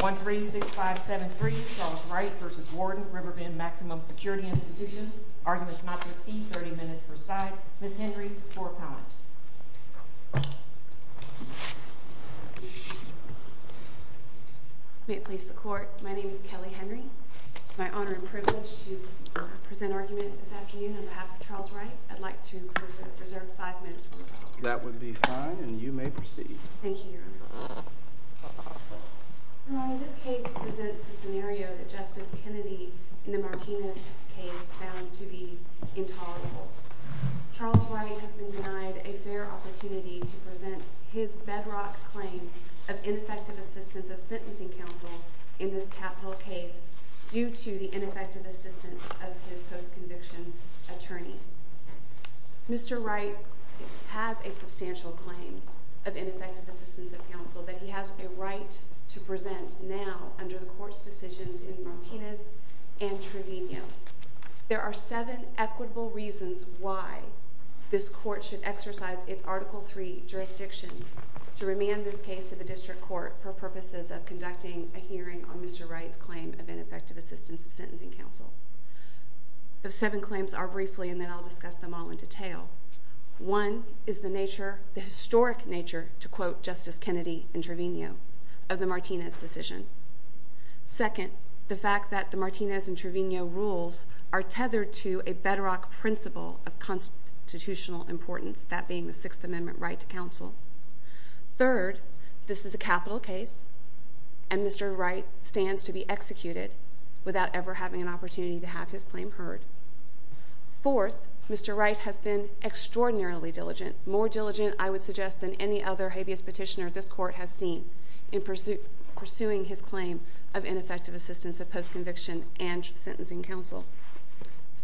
136573, Charles Wright v. Warden, Riverbend Maximum Security Institution. Arguments not to exceed 30 minutes per side. Ms. Henry, for a comment. May it please the court, my name is Kelly Henry. It's my honor and privilege to present argument this afternoon on behalf of Charles Wright. I'd like to reserve five minutes for the court. That would be fine, and you may proceed. Thank you, Your Honor. Your Honor, this case presents the scenario that Justice Kennedy in the Martinez case found to be intolerable. Charles Wright has been denied a fair opportunity to present his bedrock claim of ineffective assistance of sentencing counsel in this capital case due to the ineffective assistance of his post-conviction attorney. Mr. Wright has a substantial claim of ineffective assistance of counsel that he has a right to present now under the court's decisions in Martinez and Trevino. There are seven equitable reasons why this court should exercise its Article III jurisdiction to remand this case to the district court for purposes of conducting a hearing on Mr. Wright's claim of ineffective assistance of sentencing counsel. Those seven claims are briefly, and then I'll discuss them all in detail. One is the historic nature, to quote Justice Kennedy in Trevino, of the Martinez decision. Second, the fact that the Martinez and Trevino rules are tethered to a bedrock principle of constitutional importance, that being the Sixth Amendment right to counsel. Third, this is a capital case, and Mr. Wright stands to be executed without ever having an opportunity to have his claim heard. Fourth, Mr. Wright has been extraordinarily diligent, more diligent, I would suggest, than any other habeas petitioner this court has seen in pursuing his claim of ineffective assistance of post-conviction and sentencing counsel.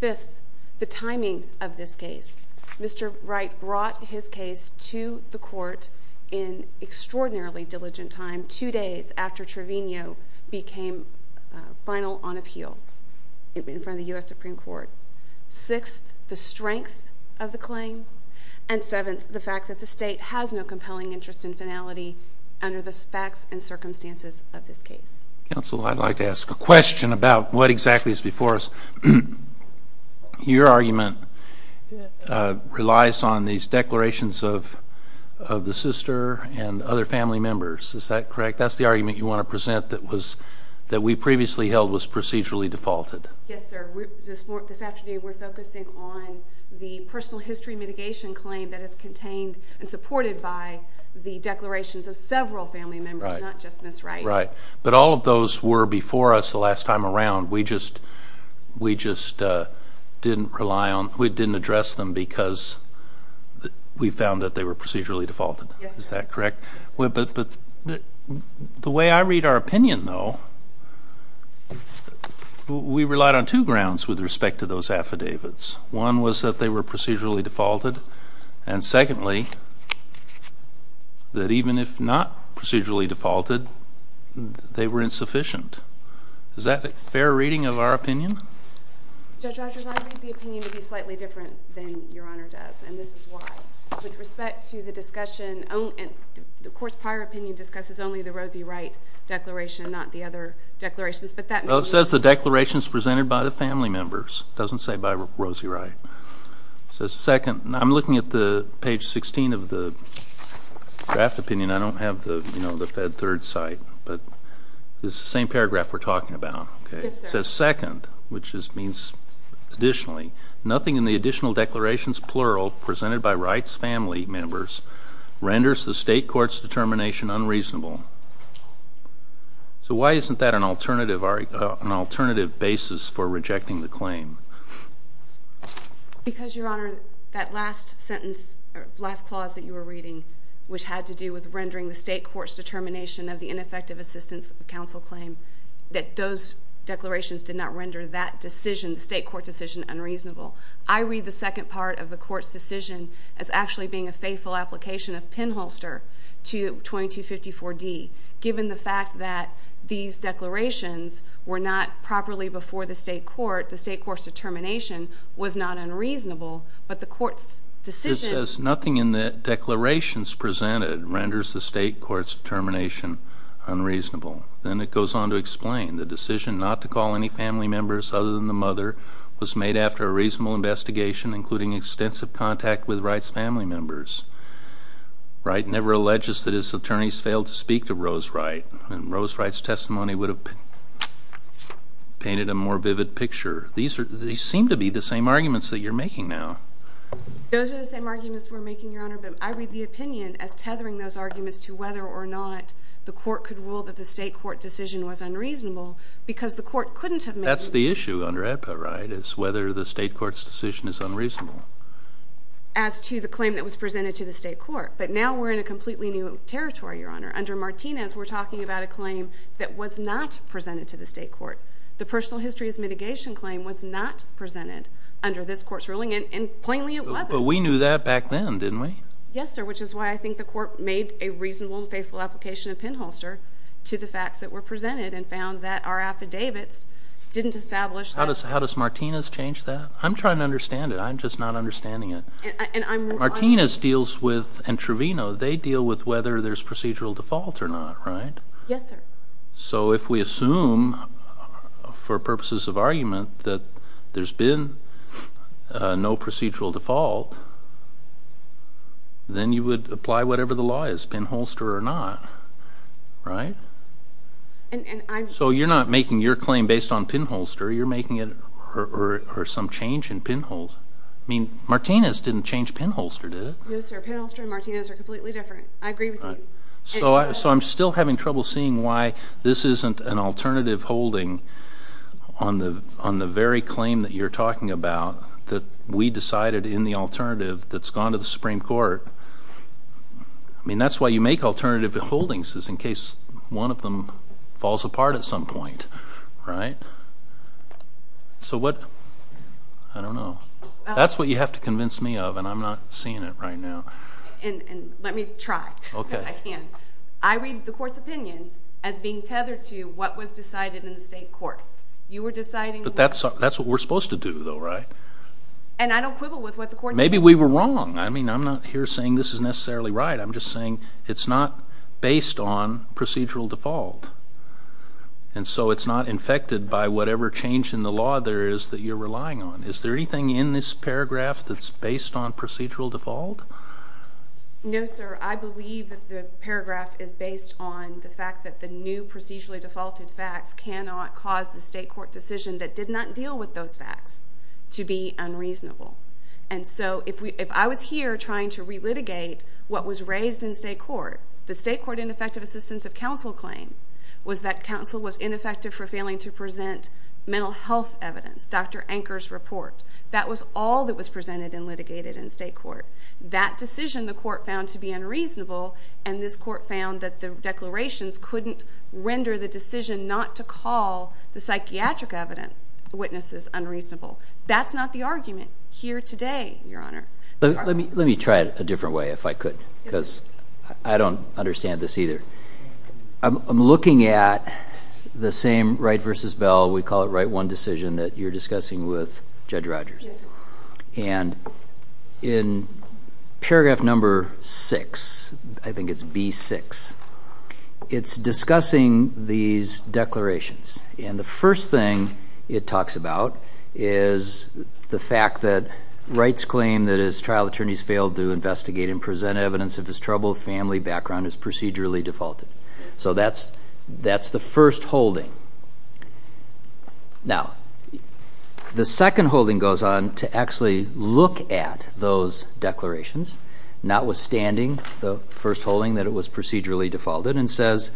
Fifth, the timing of this case. Mr. Wright brought his case to the court in extraordinarily diligent time, two days after Trevino became final on appeal in front of the U.S. Supreme Court. Sixth, the strength of the claim. And seventh, the fact that the State has no compelling interest in finality under the facts and circumstances of this case. Counsel, I'd like to ask a question about what exactly is before us. Your argument relies on these declarations of the sister and other family members. Is that correct? That's the argument you want to present that we previously held was procedurally defaulted. Yes, sir. This afternoon we're focusing on the personal history mitigation claim that is contained and supported by the declarations of several family members, not just Ms. Wright. Right. But all of those were before us the last time around. We just didn't rely on, we didn't address them because we found that they were procedurally defaulted. Yes. Is that correct? Yes. But the way I read our opinion, though, we relied on two grounds with respect to those affidavits. One was that they were procedurally defaulted. And secondly, that even if not procedurally defaulted, they were insufficient. Is that a fair reading of our opinion? Judge Rogers, I read the opinion to be slightly different than Your Honor does, and this is why. With respect to the discussion, of course, prior opinion discusses only the Rosie Wright declaration, not the other declarations. It says the declaration is presented by the family members. It doesn't say by Rosie Wright. Right. It says second. I'm looking at page 16 of the draft opinion. I don't have the Fed Third Cite, but it's the same paragraph we're talking about. Yes, sir. It says second, which just means additionally. Nothing in the additional declarations, plural, presented by Wright's family members renders the state court's determination unreasonable. So why isn't that an alternative basis for rejecting the claim? Because, Your Honor, that last clause that you were reading, which had to do with rendering the state court's determination of the ineffective assistance of counsel claim, that those declarations did not render that decision, the state court decision, unreasonable. I read the second part of the court's decision as actually being a faithful application of pinholster to 2254D. Given the fact that these declarations were not properly before the state court, the state court's determination was not unreasonable, but the court's decision It says nothing in the declarations presented renders the state court's determination unreasonable. Then it goes on to explain the decision not to call any family members other than the mother was made after a reasonable investigation including extensive contact with Wright's family members. Wright never alleges that his attorneys failed to speak to Rose Wright, and Rose Wright's testimony would have painted a more vivid picture. These seem to be the same arguments that you're making now. Those are the same arguments we're making, Your Honor, but I read the opinion as tethering those arguments to whether or not the court could rule that the state court decision was unreasonable because the court couldn't have made it. That's the issue under Epa, right, is whether the state court's decision is unreasonable. As to the claim that was presented to the state court, but now we're in a completely new territory, Your Honor. Under Martinez, we're talking about a claim that was not presented to the state court. The personal history as mitigation claim was not presented under this court's ruling, and plainly it wasn't. But we knew that back then, didn't we? Yes, sir, which is why I think the court made a reasonable and faithful application of pinholster to the facts that were presented and found that our affidavits didn't establish that. How does Martinez change that? I'm trying to understand it. I'm just not understanding it. Martinez deals with, and Trevino, they deal with whether there's procedural default or not, right? Yes, sir. So if we assume for purposes of argument that there's been no procedural default, then you would apply whatever the law is, pinholster or not, right? And I'm So you're not making your claim based on pinholster. You're making it for some change in pinholster. I mean, Martinez didn't change pinholster, did it? No, sir, pinholster and Martinez are completely different. I agree with you. So I'm still having trouble seeing why this isn't an alternative holding on the very claim that you're talking about that we decided in the alternative that's gone to the Supreme Court. I mean, that's why you make alternative holdings is in case one of them falls apart at some point, right? So what? I don't know. That's what you have to convince me of, and I'm not seeing it right now. Let me try. Okay. I can. I read the Court's opinion as being tethered to what was decided in the state court. You were deciding But that's what we're supposed to do, though, right? And I don't quibble with what the Court Maybe we were wrong. I mean, I'm not here saying this is necessarily right. I'm just saying it's not based on procedural default. And so it's not infected by whatever change in the law there is that you're relying on. Is there anything in this paragraph that's based on procedural default? No, sir. I believe that the paragraph is based on the fact that the new procedurally defaulted facts cannot cause the state court decision that did not deal with those facts to be unreasonable. And so if I was here trying to relitigate what was raised in state court, the state court ineffective assistance of counsel claim was that counsel was ineffective for failing to present mental health evidence, Dr. Anker's report. That was all that was presented and litigated in state court. That decision the court found to be unreasonable, and this court found that the declarations couldn't render the decision not to call the psychiatric evidence witnesses unreasonable. That's not the argument here today, Your Honor. Let me try it a different way if I could, because I don't understand this either. I'm looking at the same Wright v. Bell, we call it Wright 1 decision, that you're discussing with Judge Rogers. Yes, sir. And in paragraph number 6, I think it's B6, it's discussing these declarations. And the first thing it talks about is the fact that Wright's claim that his trial attorneys failed to investigate and present evidence of his troubled family background is procedurally defaulted. So that's the first holding. Now, the second holding goes on to actually look at those declarations, notwithstanding the first holding that it was procedurally defaulted, and says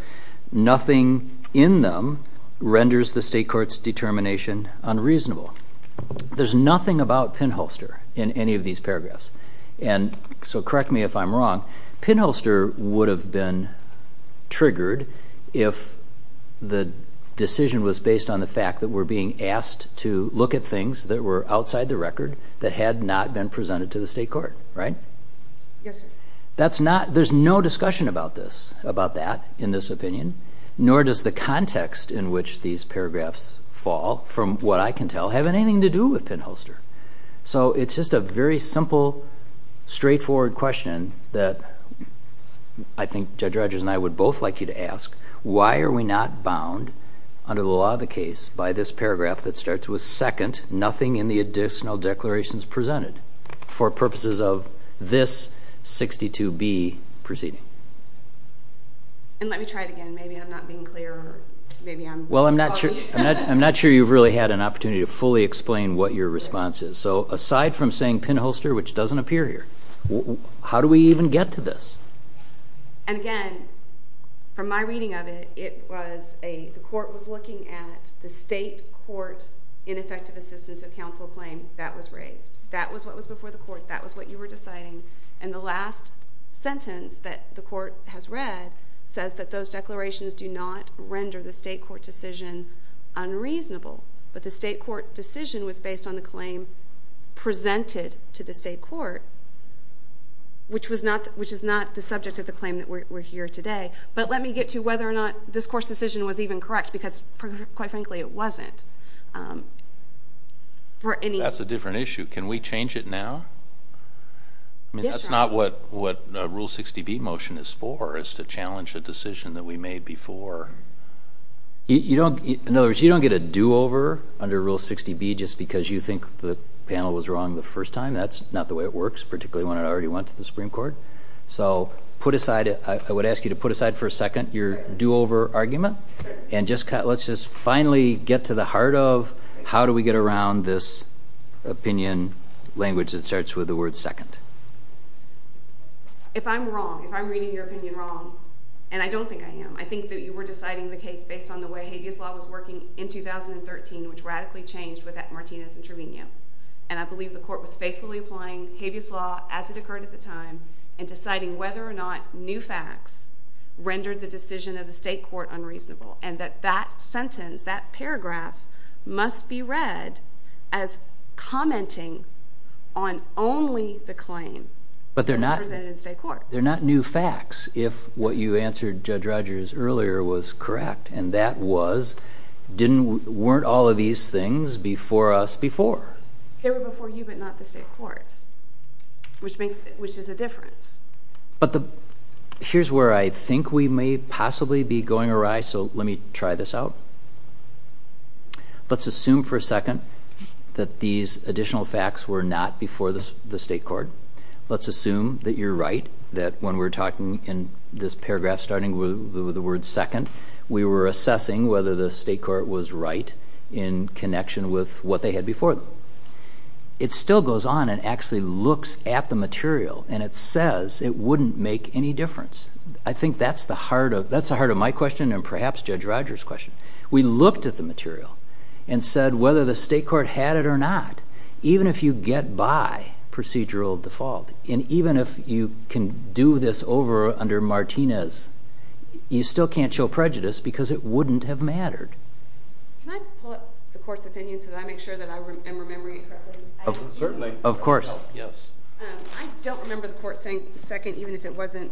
nothing in them renders the state court's determination unreasonable. There's nothing about pinholster in any of these paragraphs. And so correct me if I'm wrong, pinholster would have been triggered if the decision was based on the fact that we're being asked to look at things that were outside the record that had not been presented to the state court, right? Yes, sir. There's no discussion about that in this opinion, nor does the context in which these paragraphs fall, from what I can tell, have anything to do with pinholster. So it's just a very simple, straightforward question that I think Judge Rogers and I would both like you to ask. Why are we not bound under the law of the case by this paragraph that starts with second, nothing in the additional declarations presented, for purposes of this 62B proceeding? And let me try it again. Maybe I'm not being clear. Well, I'm not sure you've really had an opportunity to fully explain what your response is. So aside from saying pinholster, which doesn't appear here, how do we even get to this? And again, from my reading of it, the court was looking at the state court ineffective assistance of counsel claim that was raised. That was what was before the court. That was what you were deciding. And the last sentence that the court has read says that those declarations do not render the state court decision unreasonable. But the state court decision was based on the claim presented to the state court, which is not the subject of the claim that we're here today. But let me get to whether or not this court's decision was even correct, because, quite frankly, it wasn't. That's a different issue. Can we change it now? That's not what Rule 60B motion is for, is to challenge a decision that we made before. In other words, you don't get a do-over under Rule 60B just because you think the panel was wrong the first time. That's not the way it works, particularly when it already went to the Supreme Court. So I would ask you to put aside for a second your do-over argument, Let's just finally get to the heart of how do we get around this opinion language that starts with the word second. If I'm wrong, if I'm reading your opinion wrong, and I don't think I am, I think that you were deciding the case based on the way habeas law was working in 2013, which radically changed with Martinez and Trevino. And I believe the court was faithfully applying habeas law as it occurred at the time and deciding whether or not new facts rendered the decision of the state court unreasonable, and that that sentence, that paragraph, must be read as commenting on only the claim that was presented in state court. But they're not new facts. If what you answered, Judge Rogers, earlier was correct, and that was, weren't all of these things before us before? They were before you, but not the state court, which is a difference. But here's where I think we may possibly be going awry, so let me try this out. Let's assume for a second that these additional facts were not before the state court. Let's assume that you're right, that when we're talking in this paragraph starting with the word second, we were assessing whether the state court was right in connection with what they had before them. It still goes on and actually looks at the material, and it says it wouldn't make any difference. I think that's the heart of my question and perhaps Judge Rogers' question. We looked at the material and said whether the state court had it or not, even if you get by procedural default and even if you can do this over under Martinez, you still can't show prejudice because it wouldn't have mattered. Can I pull up the court's opinion so that I make sure that I am remembering it correctly? Certainly. Of course. I don't remember the court saying second even if it wasn't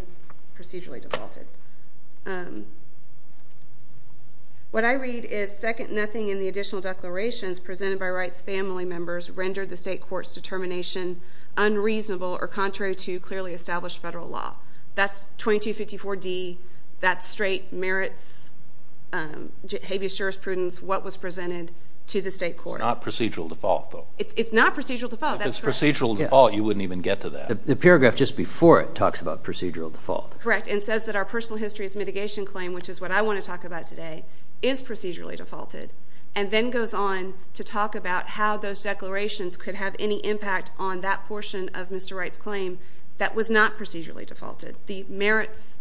procedurally defaulted. What I read is second nothing in the additional declarations presented by Wright's family members rendered the state court's determination unreasonable or contrary to clearly established federal law. That's 2254D. That straight merits habeas jurisprudence what was presented to the state court. It's not procedural default, though. It's not procedural default. If it's procedural default, you wouldn't even get to that. The paragraph just before it talks about procedural default. Correct, and says that our personal history is mitigation claim, which is what I want to talk about today, is procedurally defaulted and then goes on to talk about how those declarations could have any impact on that portion of Mr. Wright's claim that was not procedurally defaulted, the merits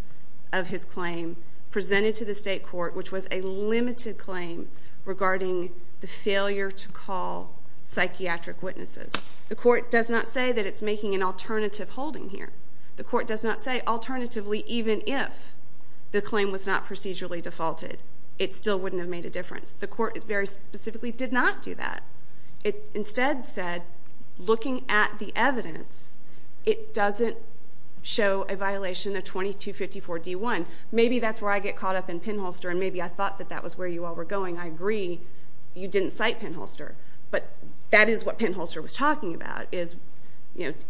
of his claim presented to the state court, which was a limited claim regarding the failure to call psychiatric witnesses. The court does not say that it's making an alternative holding here. The court does not say alternatively even if the claim was not procedurally defaulted, it still wouldn't have made a difference. The court very specifically did not do that. It instead said, looking at the evidence, it doesn't show a violation of 2254D1. Maybe that's where I get caught up in Penholster, and maybe I thought that that was where you all were going. I agree you didn't cite Penholster, but that is what Penholster was talking about, is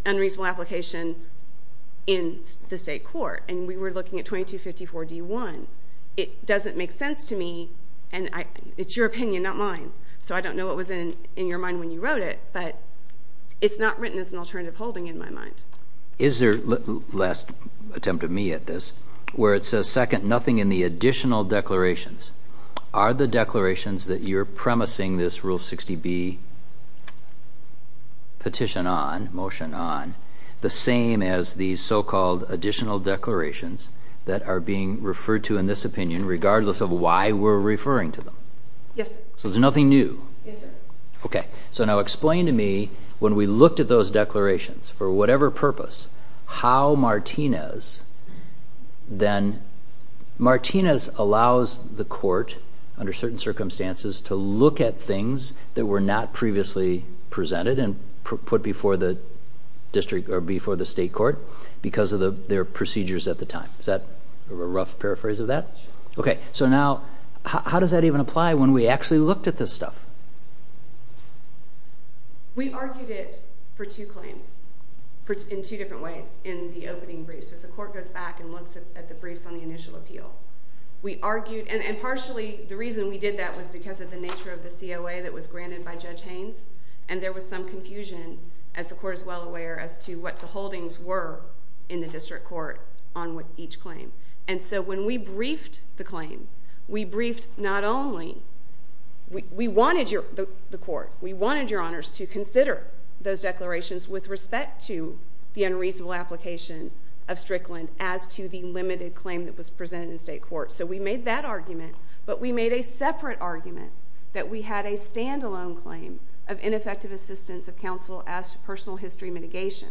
unreasonable application in the state court, and we were looking at 2254D1. It doesn't make sense to me, and it's your opinion, not mine, so I don't know what was in your mind when you wrote it, but it's not written as an alternative holding in my mind. Is there, last attempt at me at this, where it says, second, nothing in the additional declarations. Are the declarations that you're premising this Rule 60B petition on, motion on, the same as the so-called additional declarations that are being referred to in this opinion regardless of why we're referring to them? Yes, sir. So there's nothing new? Yes, sir. Okay, so now explain to me, when we looked at those declarations, for whatever purpose, how Martinez then, Martinez allows the court under certain circumstances to look at things that were not previously presented and put before the district or before the state court because of their procedures at the time. Is that a rough paraphrase of that? Sure. Okay, so now, how does that even apply when we actually looked at this stuff? We argued it for two claims in two different ways in the opening briefs. So the court goes back and looks at the briefs on the initial appeal. We argued, and partially the reason we did that was because of the nature of the COA that was granted by Judge Haynes, and there was some confusion, as the court is well aware, as to what the holdings were in the district court on each claim. And so when we briefed the claim, we briefed not only, we wanted your, the court, we wanted your honors to consider those declarations with respect to the unreasonable application of Strickland as to the limited claim that was presented in state court. So we made that argument, but we made a separate argument that we had a stand-alone claim of ineffective assistance of counsel as to personal history mitigation.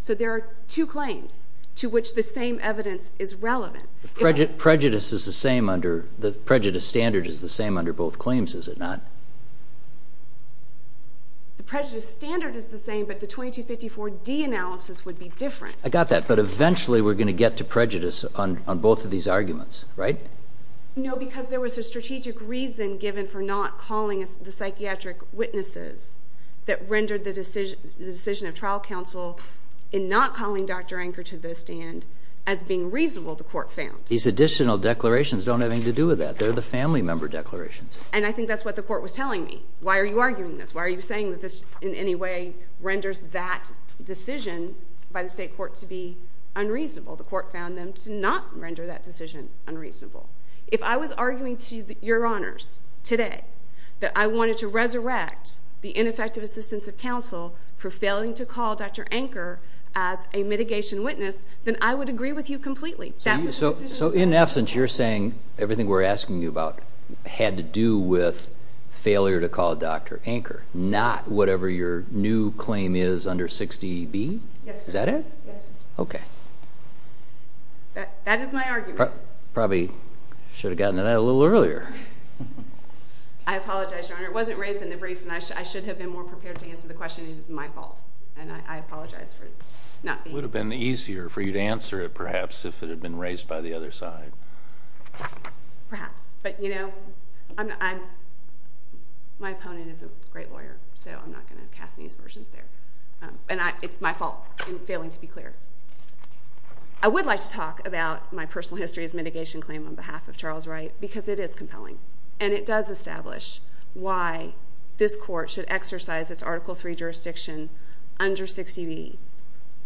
So there are two claims to which the same evidence is relevant. Prejudice is the same under, the prejudice standard is the same under both claims, is it not? The prejudice standard is the same, but the 2254D analysis would be different. I got that, but eventually we're going to get to prejudice on both of these arguments, right? No, because there was a strategic reason given for not calling the psychiatric witnesses that rendered the decision of trial counsel in not calling Dr. Anker to the stand as being reasonable, the court found. These additional declarations don't have anything to do with that. They're the family member declarations. And I think that's what the court was telling me. Why are you arguing this? Why are you saying that this in any way renders that decision by the state court to be unreasonable? The court found them to not render that decision unreasonable. If I was arguing to your honors today that I wanted to resurrect the ineffective assistance of counsel for failing to call Dr. Anker as a mitigation witness, then I would agree with you completely. So in essence, you're saying everything we're asking you about had to do with failure to call Dr. Anker, not whatever your new claim is under 60B? Yes, sir. Is that it? Yes, sir. Okay. That is my argument. You probably should have gotten to that a little earlier. I apologize, Your Honor. It wasn't raised in the briefs, and I should have been more prepared to answer the question. It is my fault, and I apologize for not being so. It would have been easier for you to answer it, perhaps, if it had been raised by the other side. Perhaps. But, you know, my opponent is a great lawyer, so I'm not going to cast any aspersions there. And it's my fault in failing to be clear. I would like to talk about my personal history as mitigation claim on behalf of Charles Wright because it is compelling, and it does establish why this court should exercise its Article III jurisdiction under 60B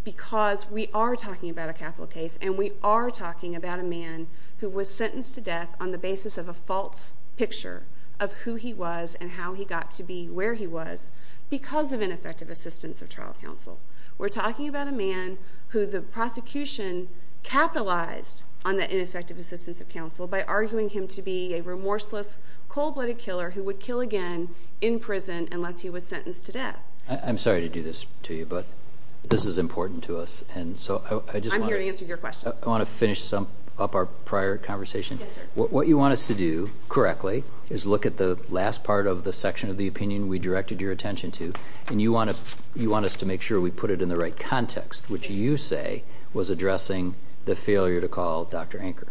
because we are talking about a capital case, and we are talking about a man who was sentenced to death on the basis of a false picture of who he was and how he got to be where he was because of ineffective assistance of trial counsel. We're talking about a man who the prosecution capitalized on that ineffective assistance of counsel by arguing him to be a remorseless, cold-blooded killer who would kill again in prison unless he was sentenced to death. I'm sorry to do this to you, but this is important to us. I'm here to answer your questions. I want to finish up our prior conversation. Yes, sir. What you want us to do, correctly, is look at the last part of the section of the opinion we directed your attention to, and you want us to make sure we put it in the right context, which you say was addressing the failure to call Dr. Anker,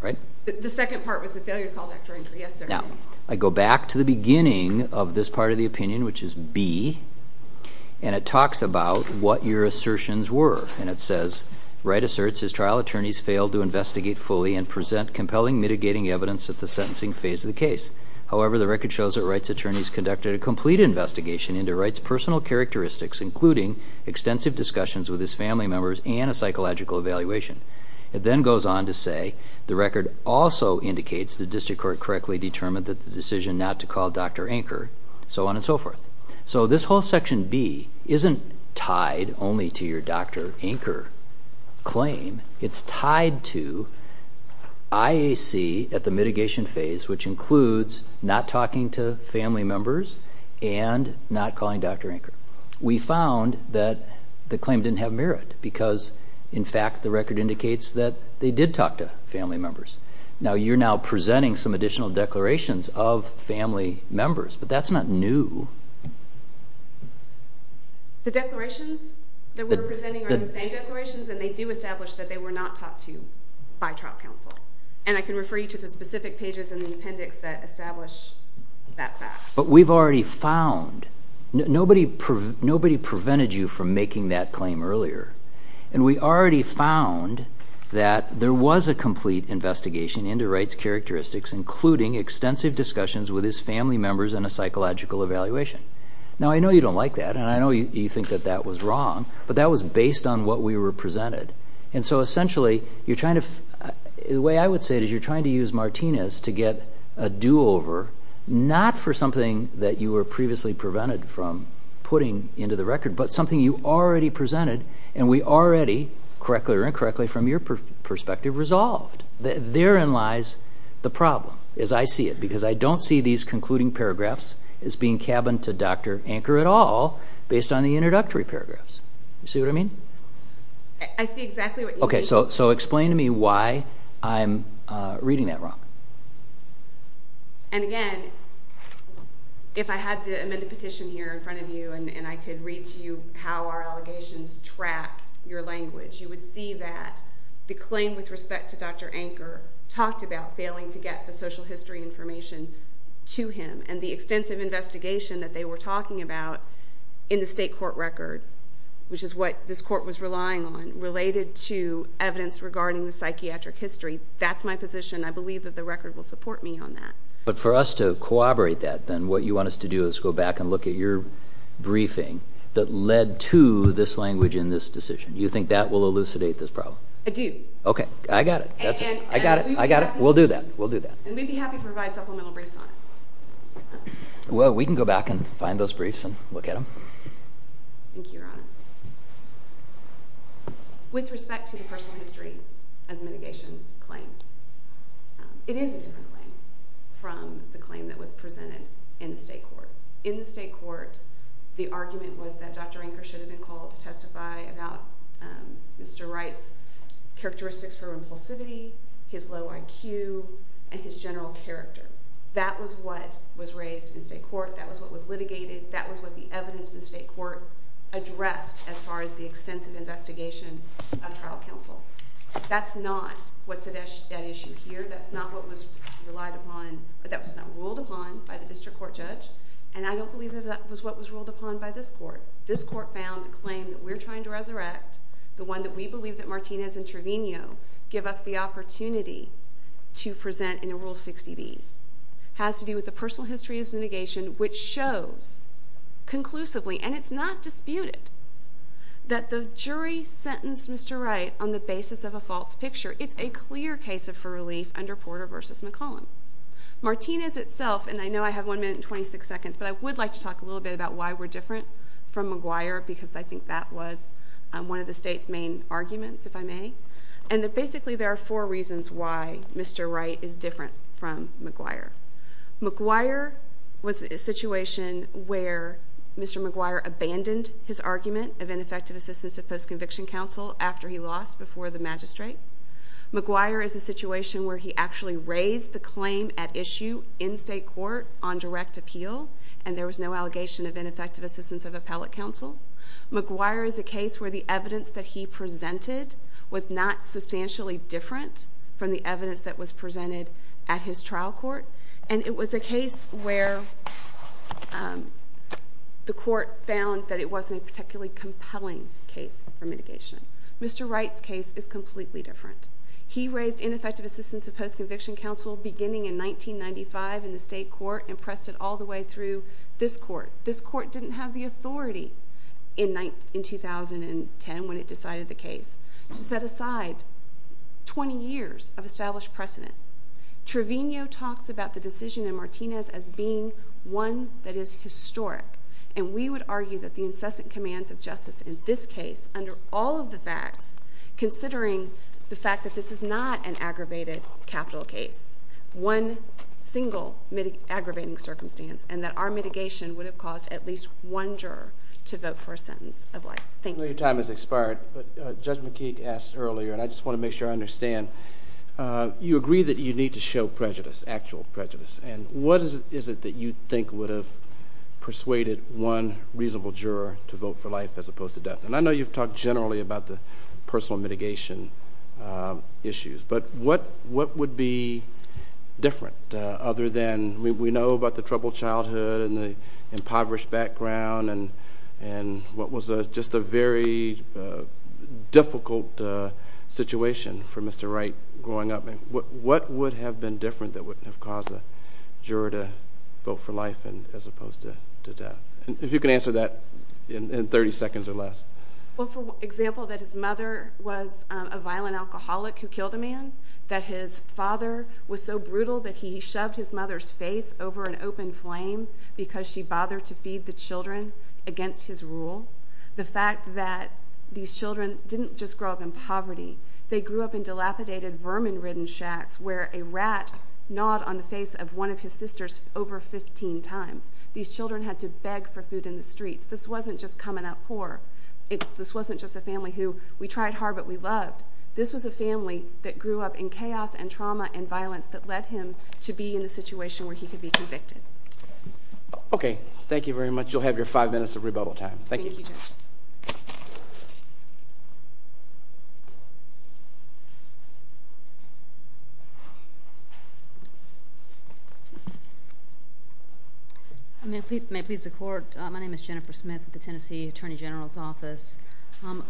right? The second part was the failure to call Dr. Anker, yes, sir. Now, I go back to the beginning of this part of the opinion, which is B, and it talks about what your assertions were, and it says, Wright asserts his trial attorneys failed to investigate fully and present compelling mitigating evidence at the sentencing phase of the case. However, the record shows that Wright's attorneys conducted a complete investigation into Wright's personal characteristics, including extensive discussions with his family members and a psychological evaluation. It then goes on to say the record also indicates the district court correctly determined that the decision not to call Dr. Anker, so on and so forth. So this whole section B isn't tied only to your Dr. Anker claim. It's tied to IAC at the mitigation phase, which includes not talking to family members and not calling Dr. Anker. We found that the claim didn't have merit because, in fact, the record indicates that they did talk to family members. Now, you're now presenting some additional declarations of family members, but that's not new. The declarations that we're presenting are the same declarations, and they do establish that they were not talked to by trial counsel, and I can refer you to the specific pages in the appendix that establish that fact. But we've already found nobody prevented you from making that claim earlier, and we already found that there was a complete investigation into Wright's characteristics, including extensive discussions with his family members and a psychological evaluation. Now, I know you don't like that, and I know you think that that was wrong, but that was based on what we were presented. And so essentially, the way I would say it is you're trying to use Martinez to get a do-over, not for something that you were previously prevented from putting into the record, but something you already presented, and we already, correctly or incorrectly from your perspective, resolved. Therein lies the problem, as I see it, because I don't see these concluding paragraphs as being cabin to Dr. Anker at all, based on the introductory paragraphs. You see what I mean? I see exactly what you mean. Okay, so explain to me why I'm reading that wrong. And again, if I had to amend a petition here in front of you, and I could read to you how our allegations track your language, you would see that the claim with respect to Dr. Anker talked about failing to get the social history information to him, and the extensive investigation that they were talking about in the state court record, which is what this court was relying on, related to evidence regarding the psychiatric history. That's my position. I believe that the record will support me on that. But for us to corroborate that, then, what you want us to do is go back and look at your briefing that led to this language in this decision. Do you think that will elucidate this problem? I do. Okay, I got it. I got it. We'll do that. And we'd be happy to provide supplemental briefs on it. Well, we can go back and find those briefs and look at them. Thank you, Your Honor. With respect to the personal history as mitigation claim, it is a different claim from the claim that was presented in the state court. In the state court, the argument was that Dr. Anker should have been called to testify about Mr. Wright's characteristics for impulsivity, his low IQ, and his general character. That was what was raised in state court. That was what was litigated. That was what the evidence in state court addressed as far as the extensive investigation of trial counsel. That's not what's at issue here. That's not what was ruled upon by the district court judge, and I don't believe that that was what was ruled upon by this court. This court found the claim that we're trying to resurrect, the one that we believe that Martinez and Trevino give us the opportunity to present in Rule 60B, has to do with the personal history as mitigation, which shows conclusively, and it's not disputed, that the jury sentenced Mr. Wright on the basis of a false picture. It's a clear case of relief under Porter v. McCollum. Martinez itself, and I know I have one minute and 26 seconds, but I would like to talk a little bit about why we're different from McGuire, because I think that was one of the state's main arguments, if I may. And basically there are four reasons why Mr. Wright is different from McGuire. McGuire was a situation where Mr. McGuire abandoned his argument of ineffective assistance of post-conviction counsel after he lost before the magistrate. McGuire is a situation where he actually raised the claim at issue in state court on direct appeal, and there was no allegation of ineffective assistance of appellate counsel. McGuire is a case where the evidence that he presented was not substantially different from the evidence that was presented at his trial court, and it was a case where the court found that it wasn't a particularly compelling case for mitigation. Mr. Wright's case is completely different. He raised ineffective assistance of post-conviction counsel beginning in 1995 in the state court and pressed it all the way through this court. This court didn't have the authority in 2010 when it decided the case. To set aside 20 years of established precedent, Trevino talks about the decision in Martinez as being one that is historic, and we would argue that the incessant commands of justice in this case under all of the facts, considering the fact that this is not an aggravated capital case, one single aggravating circumstance, and that our mitigation would have caused at least one juror to vote for a sentence of life. Thank you. I know your time has expired, but Judge McKeek asked earlier, and I just want to make sure I understand, you agree that you need to show prejudice, actual prejudice. And what is it that you think would have persuaded one reasonable juror to vote for life as opposed to death? And I know you've talked generally about the personal mitigation issues, but what would be different other than we know about the troubled childhood and the impoverished background and what was just a very difficult situation for Mr. Wright growing up? What would have been different that would have caused a juror to vote for life as opposed to death? If you can answer that in 30 seconds or less. Well, for example, that his mother was a violent alcoholic who killed a man, that his father was so brutal that he shoved his mother's face over an open flame because she bothered to feed the children against his rule, the fact that these children didn't just grow up in poverty. They grew up in dilapidated, vermin-ridden shacks where a rat gnawed on the face of one of his sisters over 15 times. These children had to beg for food in the streets. This wasn't just coming out poor. This wasn't just a family who we tried hard but we loved. This was a family that grew up in chaos and trauma and violence that led him to be in a situation where he could be convicted. Okay. Thank you very much. You'll have your five minutes of rebuttal time. Thank you. May it please the Court, my name is Jennifer Smith with the Tennessee Attorney General's Office. I'd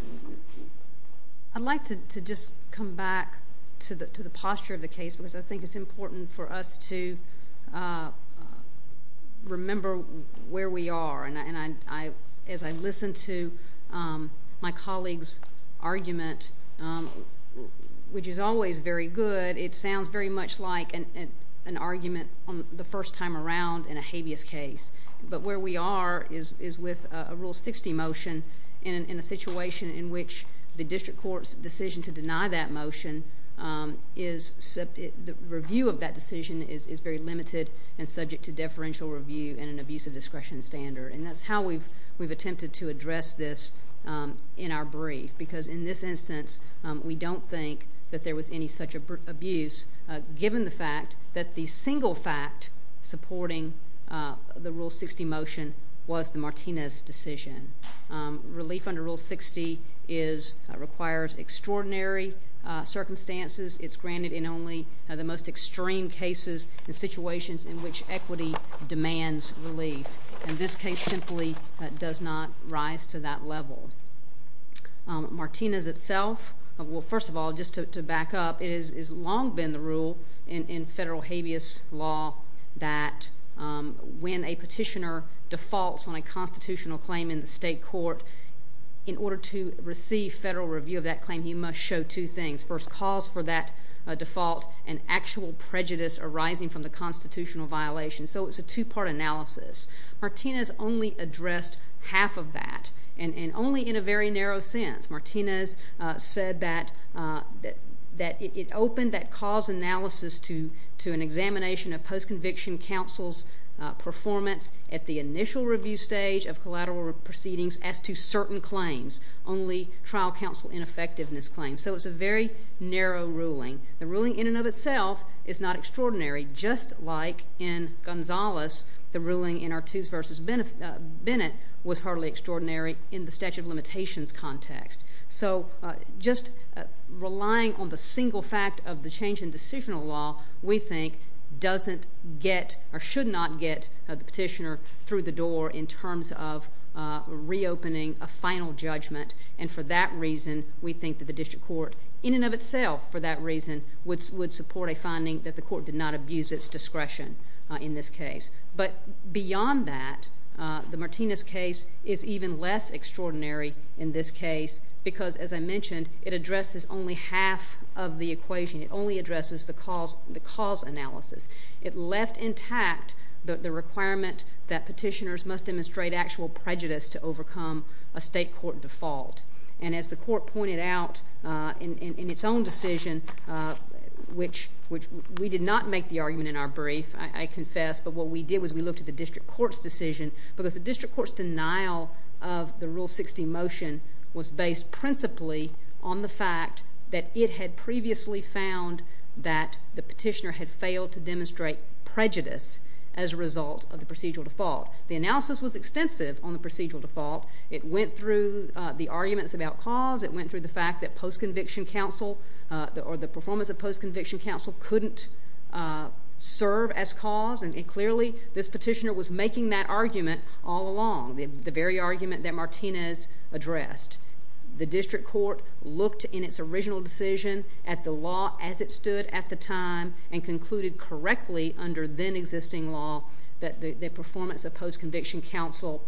like to just come back to the posture of the case because I think it's important for us to remember where we are. And as I listened to my colleague's argument, which is always very good, it sounds very much like an argument the first time around in a habeas case. But where we are is with a Rule 60 motion in a situation in which the district court's decision to deny that motion, the review of that decision is very limited and subject to deferential review and an abusive discretion standard. And that's how we've attempted to address this in our brief. Because in this instance, we don't think that there was any such abuse given the fact that the single fact supporting the Rule 60 motion was the Martinez decision. Relief under Rule 60 requires extraordinary circumstances. It's granted in only the most extreme cases and situations in which equity demands relief. And this case simply does not rise to that level. Martinez itself, well, first of all, just to back up, it has long been the rule in federal habeas law that when a petitioner defaults on a constitutional claim in the state court, in order to receive federal review of that claim, he must show two things. First, cause for that default and actual prejudice arising from the constitutional violation. So it's a two-part analysis. Martinez only addressed half of that and only in a very narrow sense. Martinez said that it opened that cause analysis to an examination of post-conviction counsel's performance at the initial review stage of collateral proceedings as to certain claims, only trial counsel ineffectiveness claims. So it's a very narrow ruling. The ruling in and of itself is not extraordinary, just like in Gonzales. The ruling in Artuse v. Bennett was hardly extraordinary in the statute of limitations context. So just relying on the single fact of the change in decisional law, we think, doesn't get or should not get the petitioner through the door in terms of reopening a final judgment. And for that reason, we think that the district court in and of itself, for that reason, would support a finding that the court did not abuse its discretion in this case. But beyond that, the Martinez case is even less extraordinary in this case because, as I mentioned, it addresses only half of the equation. It only addresses the cause analysis. It left intact the requirement that petitioners must demonstrate actual prejudice to overcome a state court default. And as the court pointed out in its own decision, which we did not make the argument in our brief, I confess, but what we did was we looked at the district court's decision because the district court's denial of the Rule 60 motion was based principally on the fact that it had previously found that the petitioner had failed to demonstrate prejudice as a result of the procedural default. The analysis was extensive on the procedural default. It went through the arguments about cause. It went through the fact that post-conviction counsel or the performance of post-conviction counsel couldn't serve as cause. And clearly, this petitioner was making that argument all along, the very argument that Martinez addressed. The district court looked in its original decision at the law as it stood at the time and concluded correctly under then-existing law that the performance of post-conviction counsel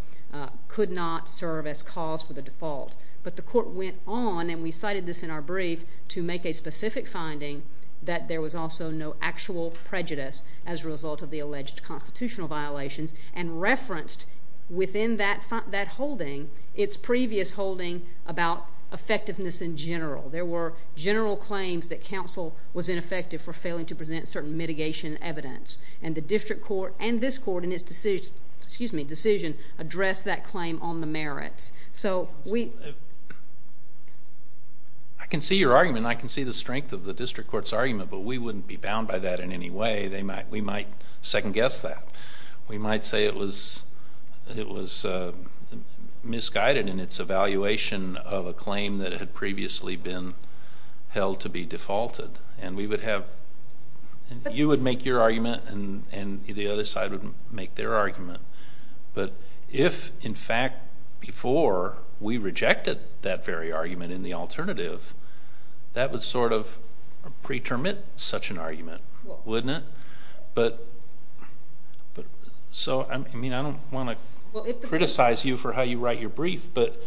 could not serve as cause for the default. But the court went on, and we cited this in our brief, to make a specific finding that there was also no actual prejudice as a result of the alleged constitutional violations and referenced within that holding its previous holding about effectiveness in general. There were general claims that counsel was ineffective for failing to present certain mitigation evidence, and the district court and this court in its decision addressed that claim on the merits. I can see your argument, and I can see the strength of the district court's argument, but we wouldn't be bound by that in any way. We might second-guess that. We might say it was misguided in its evaluation of a claim that had previously been held to be defaulted, and you would make your argument, and the other side would make their argument. But if, in fact, before we rejected that very argument in the alternative, that would sort of pre-termit such an argument, wouldn't it? So, I mean, I don't want to criticize you for how you write your brief, but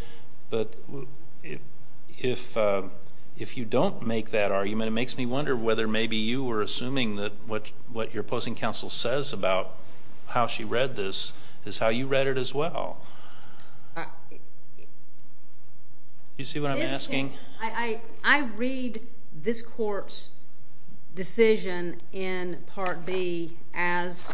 if you don't make that argument, it makes me wonder whether maybe you were assuming that what your opposing counsel says about how she read this is how you read it as well. Do you see what I'm asking? I read this court's decision in Part B as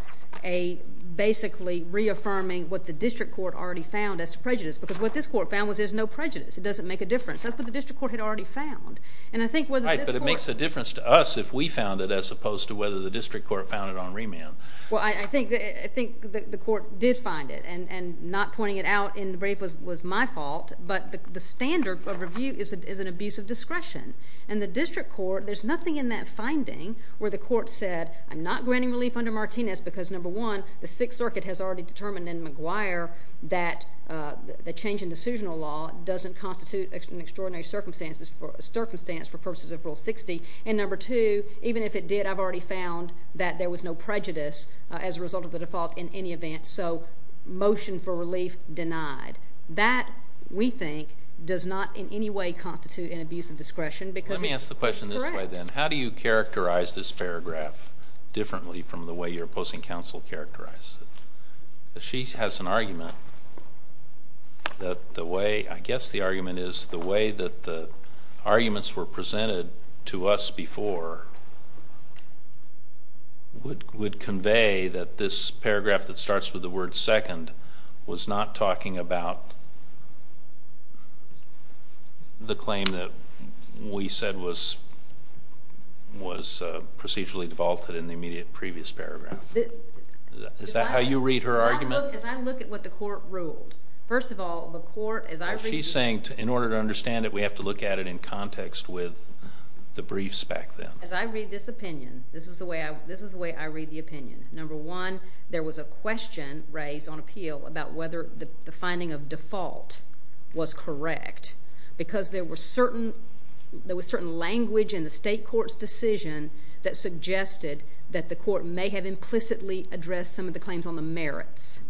basically reaffirming what the district court already found as prejudice because what this court found was there's no prejudice. It doesn't make a difference. That's what the district court had already found. Right, but it makes a difference to us if we found it as opposed to whether the district court found it on remand. Well, I think the court did find it, and not pointing it out in the brief was my fault, but the standard of review is an abuse of discretion. In the district court, there's nothing in that finding where the court said, I'm not granting relief under Martinez because, number one, the Sixth Circuit has already determined in McGuire that the change in decisional law doesn't constitute an extraordinary circumstance for purposes of Rule 60, and, number two, even if it did, I've already found that there was no prejudice as a result of the default in any event, so motion for relief denied. That, we think, does not in any way constitute an abuse of discretion because it's correct. Let me ask the question this way then. How do you characterize this paragraph differently from the way your opposing counsel characterized it? She has an argument that the way, I guess the argument is, the way that the arguments were presented to us before would convey that this paragraph that starts with the word second was not talking about the claim that we said was procedurally defaulted in the immediate previous paragraph. Is that how you read her argument? As I look at what the court ruled. First of all, the court, as I read it. She's saying in order to understand it, we have to look at it in context with the briefs back then. As I read this opinion, this is the way I read the opinion. Number one, there was a question raised on appeal about whether the finding of default was correct because there was certain language in the state court's decision that suggested that the court may have implicitly addressed some of the claims on the merits.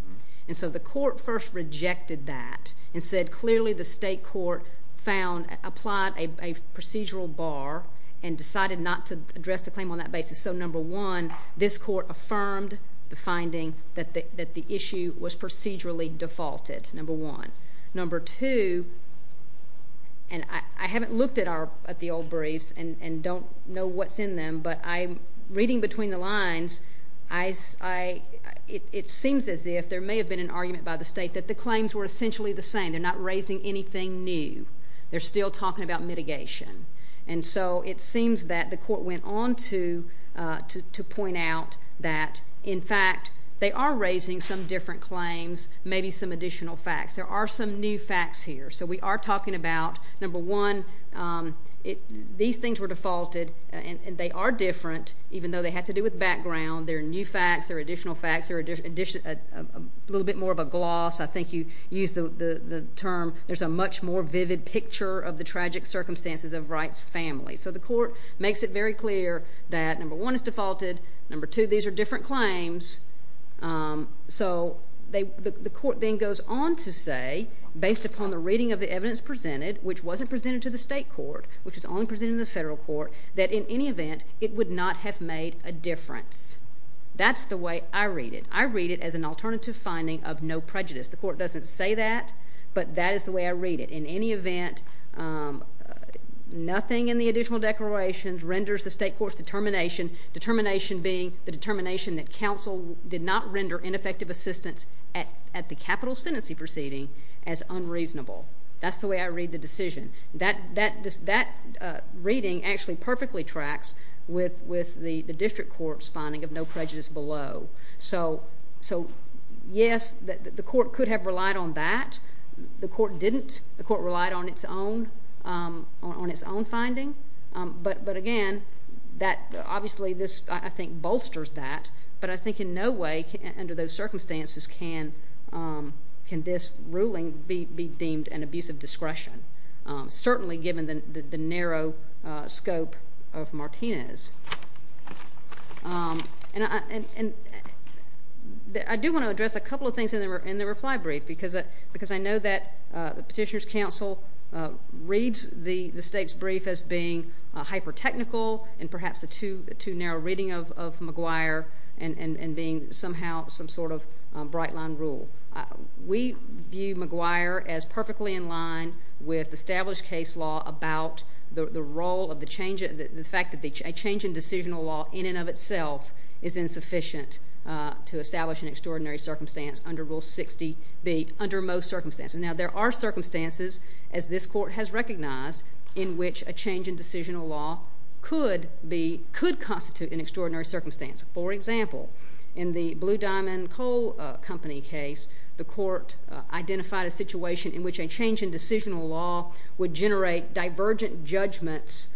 And so the court first rejected that and said clearly the state court found, applied a procedural bar and decided not to address the claim on that basis. So number one, this court affirmed the finding that the issue was procedurally defaulted, number one. Number two, and I haven't looked at the old briefs and don't know what's in them, but reading between the lines, it seems as if there may have been an argument by the state that the claims were essentially the same. They're not raising anything new. They're still talking about mitigation. And so it seems that the court went on to point out that, in fact, they are raising some different claims, maybe some additional facts. There are some new facts here. So we are talking about, number one, these things were defaulted, and they are different even though they have to do with background. There are new facts. There are additional facts. There are a little bit more of a gloss. I think you used the term. There's a much more vivid picture of the tragic circumstances of Wright's family. So the court makes it very clear that, number one, it's defaulted. Number two, these are different claims. So the court then goes on to say, based upon the reading of the evidence presented, which wasn't presented to the state court, which was only presented to the federal court, that in any event, it would not have made a difference. That's the way I read it. I read it as an alternative finding of no prejudice. The court doesn't say that, but that is the way I read it. In any event, nothing in the additional declarations renders the state court's determination, determination being the determination that counsel did not render ineffective assistance at the capital sentencing proceeding as unreasonable. That's the way I read the decision. That reading actually perfectly tracks with the district court's finding of no prejudice below. So, yes, the court could have relied on that. The court didn't. The court relied on its own finding. But, again, obviously this, I think, bolsters that, but I think in no way under those circumstances can this ruling be deemed an abuse of discretion, certainly given the narrow scope of Martinez. And I do want to address a couple of things in the reply brief because I know that the petitioner's counsel reads the state's brief as being hyper-technical and perhaps a too narrow reading of McGuire and being somehow some sort of bright-line rule. We view McGuire as perfectly in line with established case law about the fact that a change in decisional law in and of itself is insufficient to establish an extraordinary circumstance under Rule 60B, under most circumstances. Now, there are circumstances, as this court has recognized, in which a change in decisional law could constitute an extraordinary circumstance. For example, in the Blue Diamond Coal Company case, the court identified a situation in which a change in decisional law would generate divergent judgments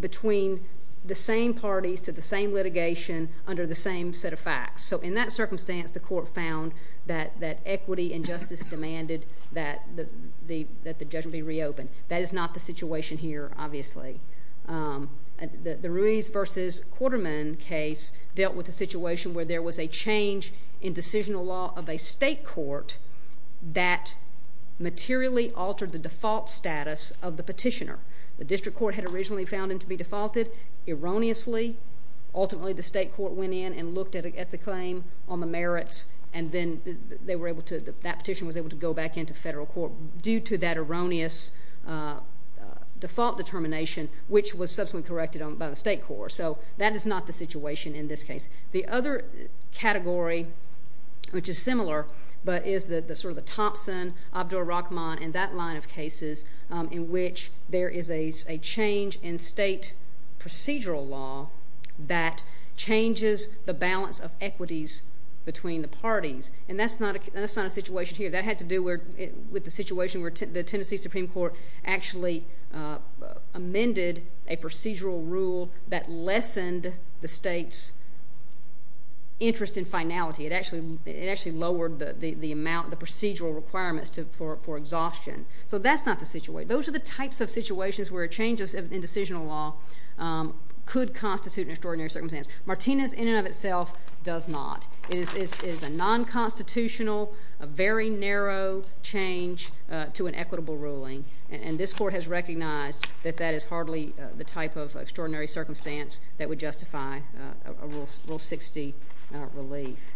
between the same parties to the same litigation under the same set of facts. So, in that circumstance, the court found that equity and justice demanded that the judgment be reopened. That is not the situation here, obviously. The Ruiz v. Quarterman case dealt with a situation where there was a change in decisional law of a state court that materially altered the default status of the petitioner. The district court had originally found him to be defaulted. Erroneously, ultimately, the state court went in and looked at the claim on the merits, and then that petition was able to go back into federal court due to that erroneous default determination, which was subsequently corrected by the state court. So, that is not the situation in this case. The other category, which is similar, but is sort of the Thompson, Abdur-Rahman, and that line of cases in which there is a change in state procedural law that changes the balance of equities between the parties. And that's not a situation here. That had to do with the situation where the Tennessee Supreme Court actually amended a procedural rule that lessened the state's interest in finality. It actually lowered the procedural requirements for exhaustion. So, that's not the situation. Those are the types of situations where a change in decisional law could constitute an extraordinary circumstance. Martinez, in and of itself, does not. It is a non-constitutional, very narrow change to an equitable ruling, and this court has recognized that that is hardly the type of extraordinary circumstance that would justify a Rule 60 relief.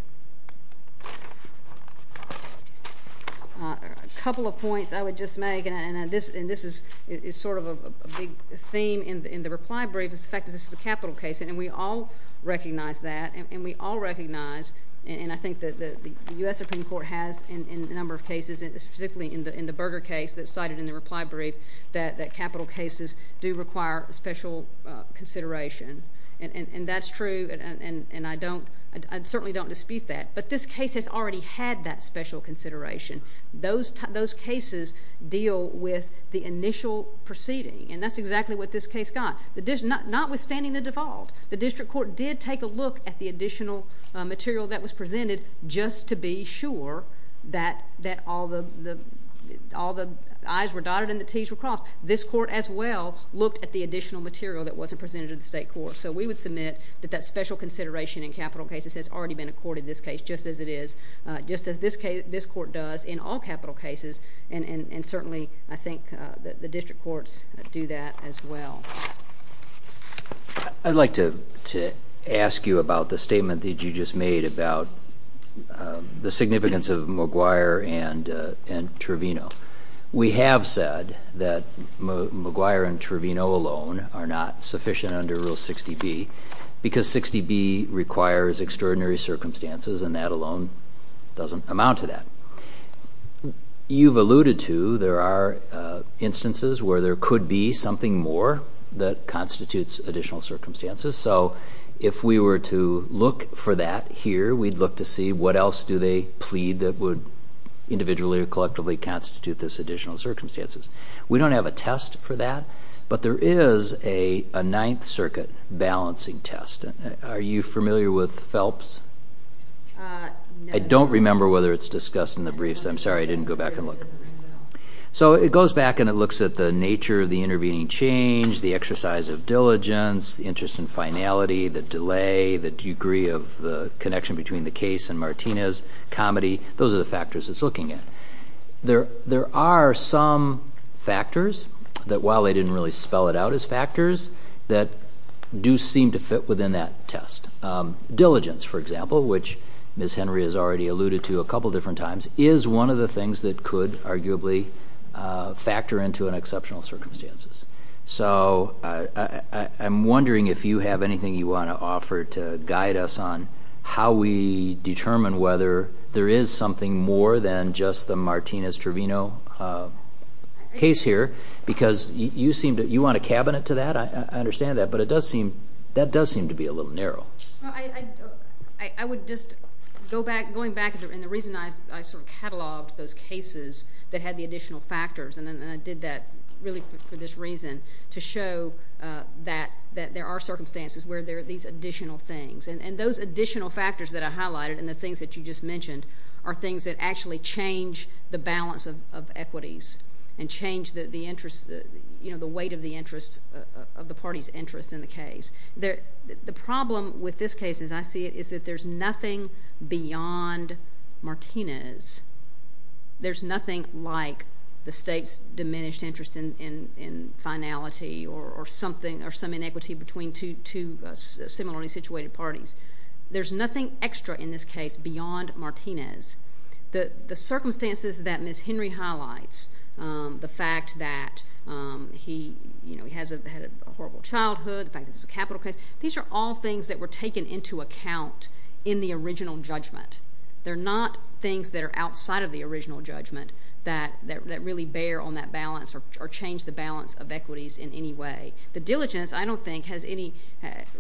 A couple of points I would just make, and this is sort of a big theme in the reply brief, is the fact that this is a capital case, and we all recognize that, and we all recognize, and I think that the U.S. Supreme Court has in a number of cases, particularly in the Berger case that's cited in the reply brief, that capital cases do require special consideration. And that's true, and I certainly don't dispute that. But this case has already had that special consideration. Those cases deal with the initial proceeding, and that's exactly what this case got, notwithstanding the default. The district court did take a look at the additional material that was presented just to be sure that all the I's were dotted and the T's were crossed. This court, as well, looked at the additional material that wasn't presented to the state court. So we would submit that that special consideration in capital cases has already been accorded in this case, just as it is, just as this court does in all capital cases, and certainly I think the district courts do that as well. I'd like to ask you about the statement that you just made about the significance of McGuire and Trevino. We have said that McGuire and Trevino alone are not sufficient under Rule 60B because 60B requires extraordinary circumstances, and that alone doesn't amount to that. You've alluded to there are instances where there could be something more that constitutes additional circumstances. So if we were to look for that here, we'd look to see what else do they plead that would individually or collectively constitute those additional circumstances. We don't have a test for that, but there is a Ninth Circuit balancing test. Are you familiar with PHELPS? I don't remember whether it's discussed in the briefs. I'm sorry, I didn't go back and look. So it goes back and it looks at the nature of the intervening change, the exercise of diligence, the interest in finality, the delay, the degree of the connection between the case and Martinez, comedy. Those are the factors it's looking at. There are some factors that, while I didn't really spell it out as factors, that do seem to fit within that test. Diligence, for example, which Ms. Henry has already alluded to a couple different times, is one of the things that could arguably factor into an exceptional circumstances. So I'm wondering if you have anything you want to offer to guide us on how we determine whether there is something more than just the Martinez-Trevino case here because you want a cabinet to that, I understand that, but that does seem to be a little narrow. I would just go back, going back, and the reason I sort of cataloged those cases that had the additional factors and I did that really for this reason, to show that there are circumstances where there are these additional things. And those additional factors that I highlighted and the things that you just mentioned are things that actually change the balance of equities and change the interest, you know, the weight of the interest of the party's interest in the case. The problem with this case, as I see it, is that there's nothing beyond Martinez. There's nothing like the state's diminished interest in finality or something or some inequity between two similarly situated parties. There's nothing extra in this case beyond Martinez. The circumstances that Ms. Henry highlights, the fact that he had a horrible childhood, the fact that it's a capital case, these are all things that were taken into account in the original judgment. They're not things that are outside of the original judgment that really bear on that balance or change the balance of equities in any way. The diligence, I don't think,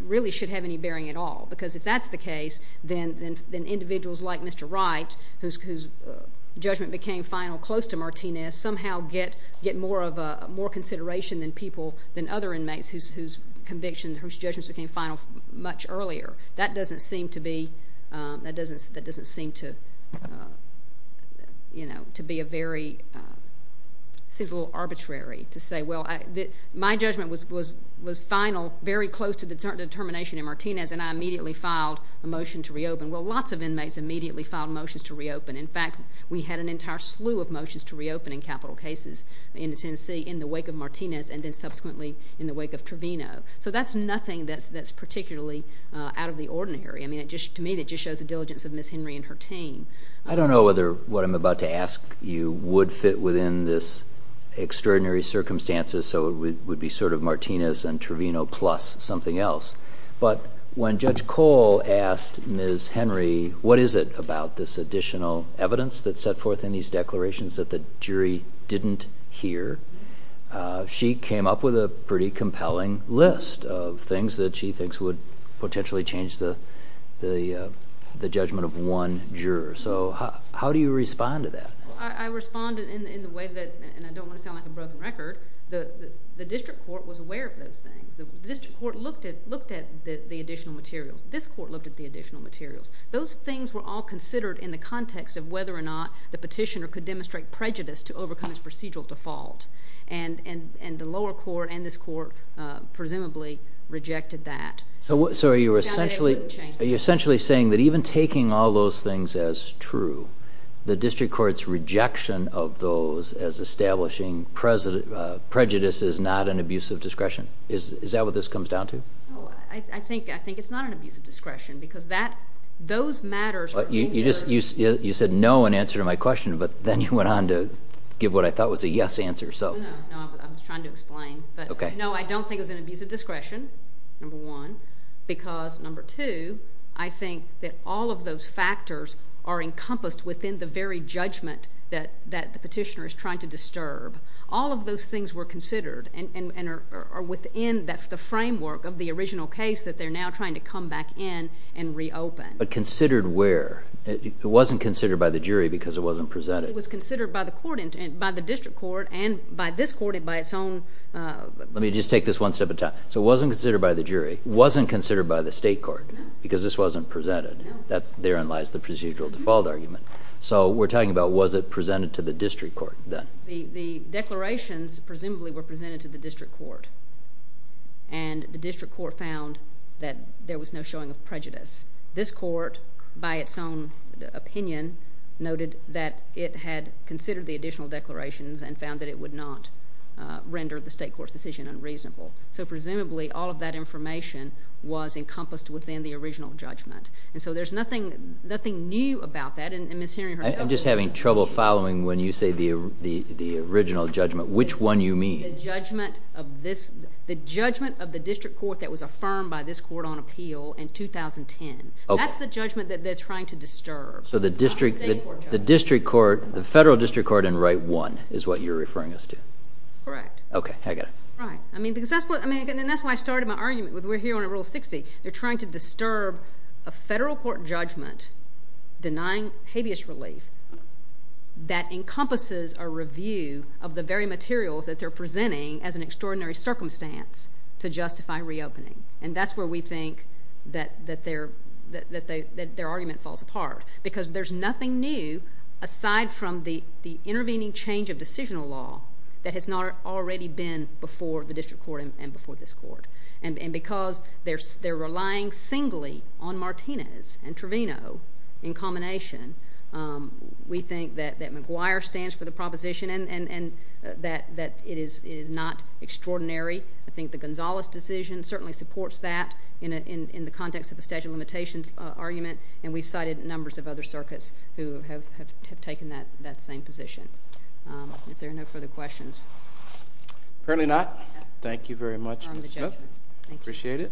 really should have any bearing at all because if that's the case, then individuals like Mr. Wright, whose judgment became final close to Martinez, somehow get more consideration than other inmates whose convictions, whose judgments became final much earlier. That doesn't seem to be a very—seems a little arbitrary to say, well, my judgment was final, very close to the determination in Martinez, and I immediately filed a motion to reopen. Well, lots of inmates immediately filed motions to reopen. In fact, we had an entire slew of motions to reopen in capital cases in Tennessee in the wake of Martinez and then subsequently in the wake of Trevino. So that's nothing that's particularly out of the ordinary. I mean, to me, it just shows the diligence of Ms. Henry and her team. I don't know whether what I'm about to ask you would fit within this extraordinary circumstances, so it would be sort of Martinez and Trevino plus something else. But when Judge Cole asked Ms. Henry what is it about this additional evidence that's set forth in these declarations that the jury didn't hear, she came up with a pretty compelling list of things that she thinks would potentially change the judgment of one juror. So how do you respond to that? I respond in the way that—and I don't want to sound like a broken record. The district court was aware of those things. The district court looked at the additional materials. This court looked at the additional materials. Those things were all considered in the context of whether or not the petitioner could demonstrate prejudice to overcome his procedural default. And the lower court and this court presumably rejected that. So are you essentially saying that even taking all those things as true, the district court's rejection of those as establishing prejudice is not an abuse of discretion? Is that what this comes down to? I think it's not an abuse of discretion because those matters were answered— You said no in answer to my question, but then you went on to give what I thought was a yes answer. No, I was trying to explain. No, I don't think it was an abuse of discretion, number one, because, number two, I think that all of those factors are encompassed within the very judgment that the petitioner is trying to disturb. All of those things were considered and are within the framework of the original case that they're now trying to come back in and reopen. But considered where? It wasn't considered by the jury because it wasn't presented. It was considered by the district court and by this court and by its own— Let me just take this one step at a time. So it wasn't considered by the jury. It wasn't considered by the state court because this wasn't presented. Therein lies the procedural default argument. So we're talking about was it presented to the district court then? The declarations presumably were presented to the district court, and the district court found that there was no showing of prejudice. This court, by its own opinion, noted that it had considered the additional declarations and found that it would not render the state court's decision unreasonable. So presumably all of that information was encompassed within the original judgment. And so there's nothing new about that. And Ms. Hering herself— I'm just having trouble following when you say the original judgment. Which one you mean? The judgment of this—the judgment of the district court that was affirmed by this court on appeal in 2010. That's the judgment that they're trying to disturb. So the district court—the federal district court in right one is what you're referring us to? Correct. Okay. I get it. Right. I mean because that's what—and that's why I started my argument with we're here on Rule 60. They're trying to disturb a federal court judgment denying habeas relief that encompasses a review of the very materials that they're presenting as an extraordinary circumstance to justify reopening. And that's where we think that their argument falls apart because there's nothing new aside from the intervening change of decisional law that has not already been before the district court and before this court. And because they're relying singly on Martinez and Trevino in combination we think that McGuire stands for the proposition and that it is not extraordinary. I think the Gonzales decision certainly supports that in the context of the statute of limitations argument. And we've cited numbers of other circuits who have taken that same position. If there are no further questions. Apparently not. Thank you very much, Ms. Smith. Thank you. Appreciate it.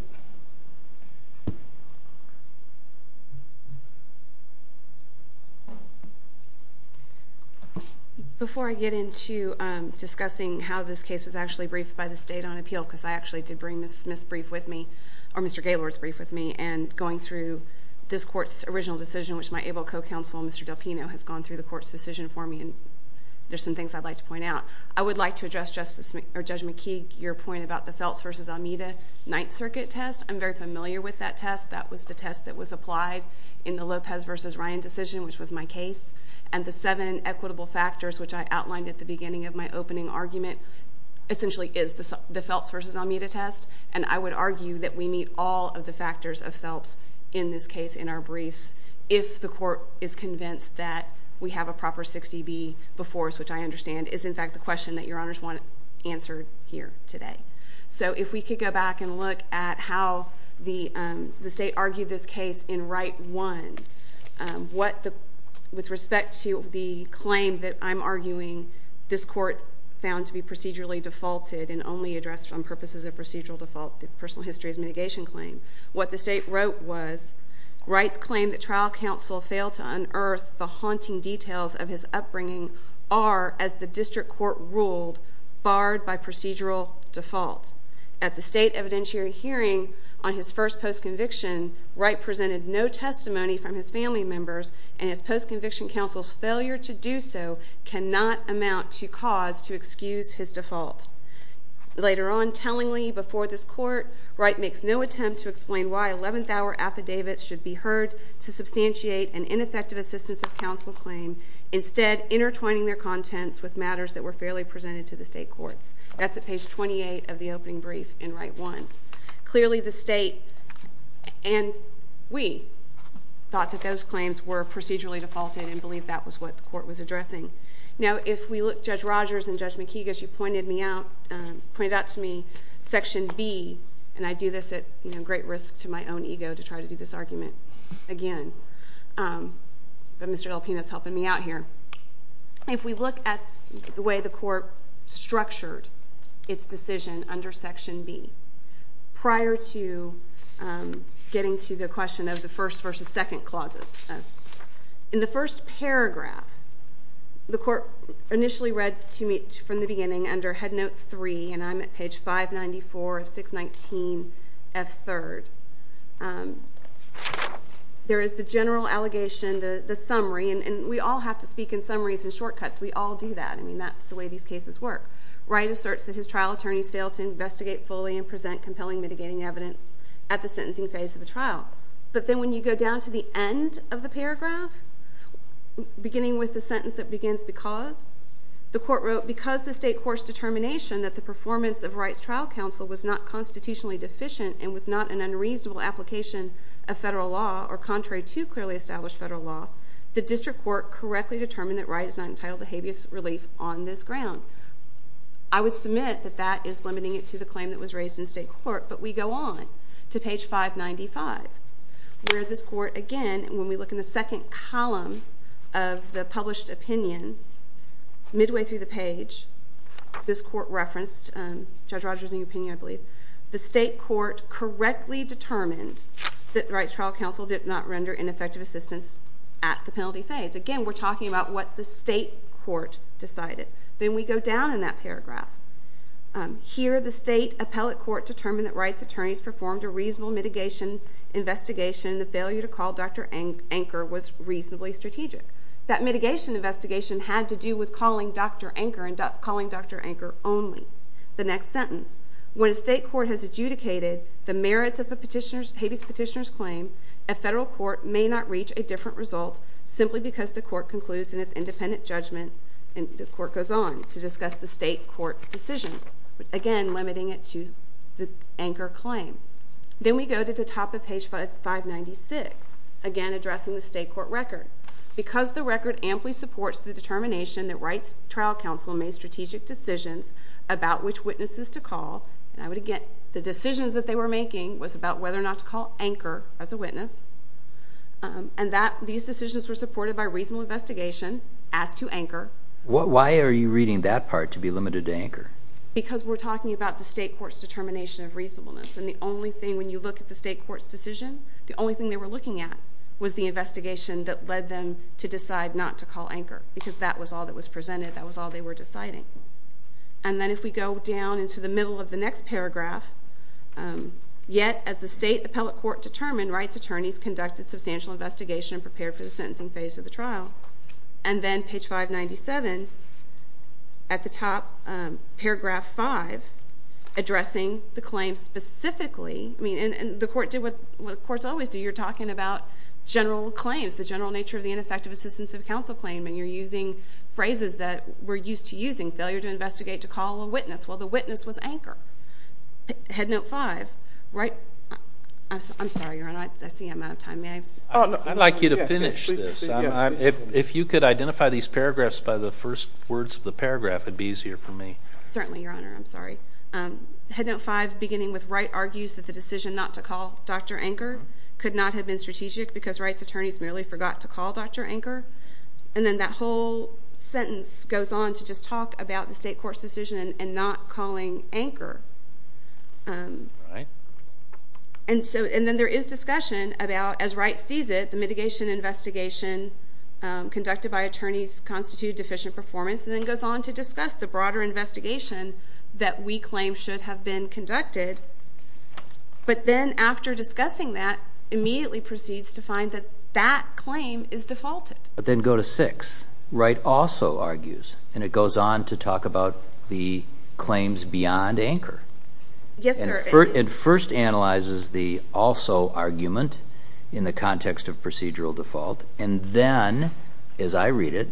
Before I get into discussing how this case was actually briefed by the state on appeal because I actually did bring Ms. Smith's brief with me or Mr. Gaylord's brief with me and going through this court's original decision which my able co-counsel Mr. Del Pino has gone through the court's decision for me and there's some things I'd like to point out. I would like to address Judge McKee, your point about the Feltz v. Almeida Ninth Circuit test. I'm very familiar with that test. That was the test that was applied in the Lopez v. Ryan decision which was my case. And the seven equitable factors which I outlined at the beginning of my opening argument essentially is the Feltz v. Almeida test. And I would argue that we meet all of the factors of Feltz in this case in our briefs if the court is convinced that we have a proper 60B before us, which I understand is in fact the question that your honors want answered here today. So if we could go back and look at how the state argued this case in right one. With respect to the claim that I'm arguing, this court found to be procedurally defaulted and only addressed on purposes of procedural default, the personal histories mitigation claim. What the state wrote was, Wright's claim that trial counsel failed to unearth the haunting details of his upbringing are, as the district court ruled, barred by procedural default. At the state evidentiary hearing on his first post-conviction, Wright presented no testimony from his family members and his post-conviction counsel's failure to do so cannot amount to cause to excuse his default. Later on, tellingly before this court, Wright makes no attempt to explain why eleventh-hour affidavits should be heard to substantiate an ineffective assistance of counsel claim. Instead, intertwining their contents with matters that were fairly presented to the state courts. That's at page 28 of the opening brief in right one. Clearly, the state and we thought that those claims were procedurally defaulted and believed that was what the court was addressing. Now, if we look at Judge Rogers and Judge McKeague, as she pointed out to me, section B, and I do this at great risk to my own ego to try to do this argument again, but Mr. Del Pino is helping me out here. If we look at the way the court structured its decision under section B, prior to getting to the question of the first versus second clauses, in the first paragraph, the court initially read to me from the beginning under head note three, and I'm at page 594 of 619F3rd. There is the general allegation, the summary, and we all have to speak in summaries and shortcuts. We all do that. I mean, that's the way these cases work. Wright asserts that his trial attorneys failed to investigate fully and present compelling mitigating evidence at the sentencing phase of the trial. But then when you go down to the end of the paragraph, beginning with the sentence that begins because, the court wrote, because the state court's determination that the performance of Wright's trial counsel was not constitutionally deficient and was not an unreasonable application of federal law, or contrary to clearly established federal law, the district court correctly determined that Wright is not entitled to habeas relief on this ground. I would submit that that is limiting it to the claim that was raised in state court, but we go on to page 595, where this court, again, when we look in the second column of the published opinion, midway through the page, this court referenced Judge Rogers' opinion, I believe. The state court correctly determined that Wright's trial counsel did not render ineffective assistance at the penalty phase. Again, we're talking about what the state court decided. Then we go down in that paragraph. Here, the state appellate court determined that Wright's attorneys performed a reasonable mitigation investigation. The failure to call Dr. Anker was reasonably strategic. That mitigation investigation had to do with calling Dr. Anker and calling Dr. Anker only. The next sentence, when a state court has adjudicated the merits of a habeas petitioner's claim, a federal court may not reach a different result simply because the court concludes in its independent judgment, and the court goes on to discuss the state court decision, again, limiting it to the Anker claim. Then we go to the top of page 596, again, addressing the state court record. Because the record amply supports the determination that Wright's trial counsel made strategic decisions about which witnesses to call, the decisions that they were making was about whether or not to call Anker as a witness, and these decisions were supported by reasonable investigation as to Anker. Why are you reading that part to be limited to Anker? Because we're talking about the state court's determination of reasonableness, and the only thing, when you look at the state court's decision, the only thing they were looking at was the investigation that led them to decide not to call Anker because that was all that was presented. That was all they were deciding. And then if we go down into the middle of the next paragraph, yet as the state appellate court determined, Wright's attorneys conducted substantial investigation and prepared for the sentencing phase of the trial. And then page 597, at the top, paragraph 5, addressing the claim specifically. I mean, and the court did what courts always do. You're talking about general claims, the general nature of the ineffective assistance of counsel claim, and you're using phrases that we're used to using, failure to investigate to call a witness. Well, the witness was Anker. Headnote 5, Wright. I'm sorry, Your Honor. I see I'm out of time. May I? I'd like you to finish this. If you could identify these paragraphs by the first words of the paragraph, it would be easier for me. Certainly, Your Honor. I'm sorry. Headnote 5, beginning with Wright argues that the decision not to call Dr. Anker could not have been strategic because Wright's attorneys merely forgot to call Dr. Anker. And then that whole sentence goes on to just talk about the state court's decision in not calling Anker. All right. And then there is discussion about, as Wright sees it, the mitigation investigation conducted by attorneys and then goes on to discuss the broader investigation that we claim should have been conducted. But then after discussing that, immediately proceeds to find that that claim is defaulted. But then go to 6. Wright also argues, and it goes on to talk about the claims beyond Anker. Yes, sir. It first analyzes the also argument in the context of procedural default and then, as I read it,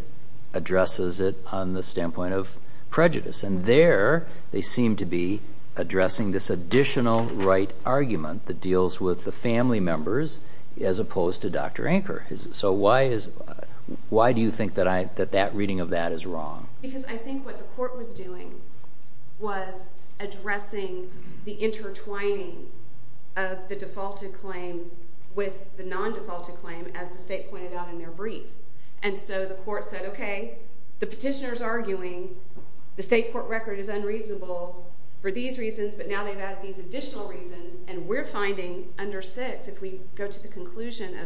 addresses it on the standpoint of prejudice. And there they seem to be addressing this additional Wright argument that deals with the family members as opposed to Dr. Anker. So why do you think that reading of that is wrong? Because I think what the court was doing was addressing the intertwining of the defaulted claim with the non-defaulted claim, as the state pointed out in their brief. And so the court said, okay, the petitioner is arguing the state court record is unreasonable for these reasons, but now they've added these additional reasons, and we're finding under 6, if we go to the conclusion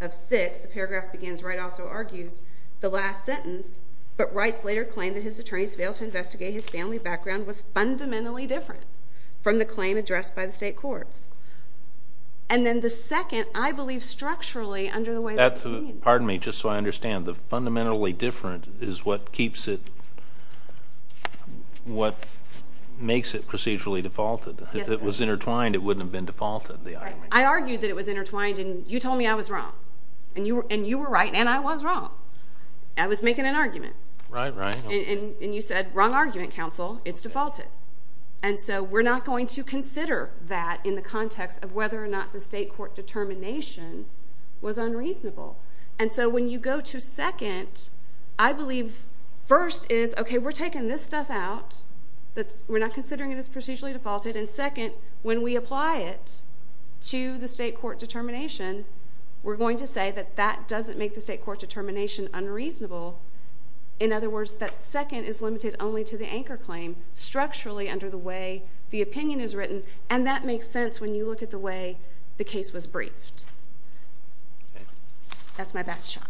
of 6, the paragraph begins, Wright also argues, the last sentence, but Wrights later claimed that his attorneys failed to investigate his family background was fundamentally different from the claim addressed by the state courts. And then the second, I believe, structurally under the way of the opinion. Pardon me, just so I understand. The fundamentally different is what keeps it, what makes it procedurally defaulted. If it was intertwined, it wouldn't have been defaulted, the argument. I argued that it was intertwined, and you told me I was wrong. And you were right, and I was wrong. I was making an argument. Right, right. And you said, wrong argument, counsel. It's defaulted. And so we're not going to consider that in the context of whether or not the state court determination was unreasonable. And so when you go to second, I believe first is, okay, we're taking this stuff out. We're not considering it as procedurally defaulted. And then second, when we apply it to the state court determination, we're going to say that that doesn't make the state court determination unreasonable. In other words, that second is limited only to the anchor claim, structurally under the way the opinion is written. And that makes sense when you look at the way the case was briefed. That's my best shot.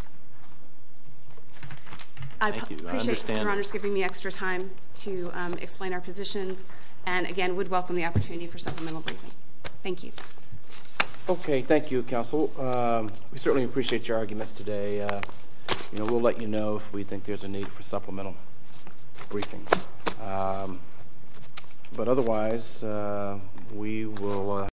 I appreciate your Honor's giving me extra time to explain our positions. And, again, would welcome the opportunity for supplemental briefing. Thank you. Okay. Thank you, counsel. We certainly appreciate your arguments today. We'll let you know if we think there's a need for supplemental briefing. But otherwise, we will.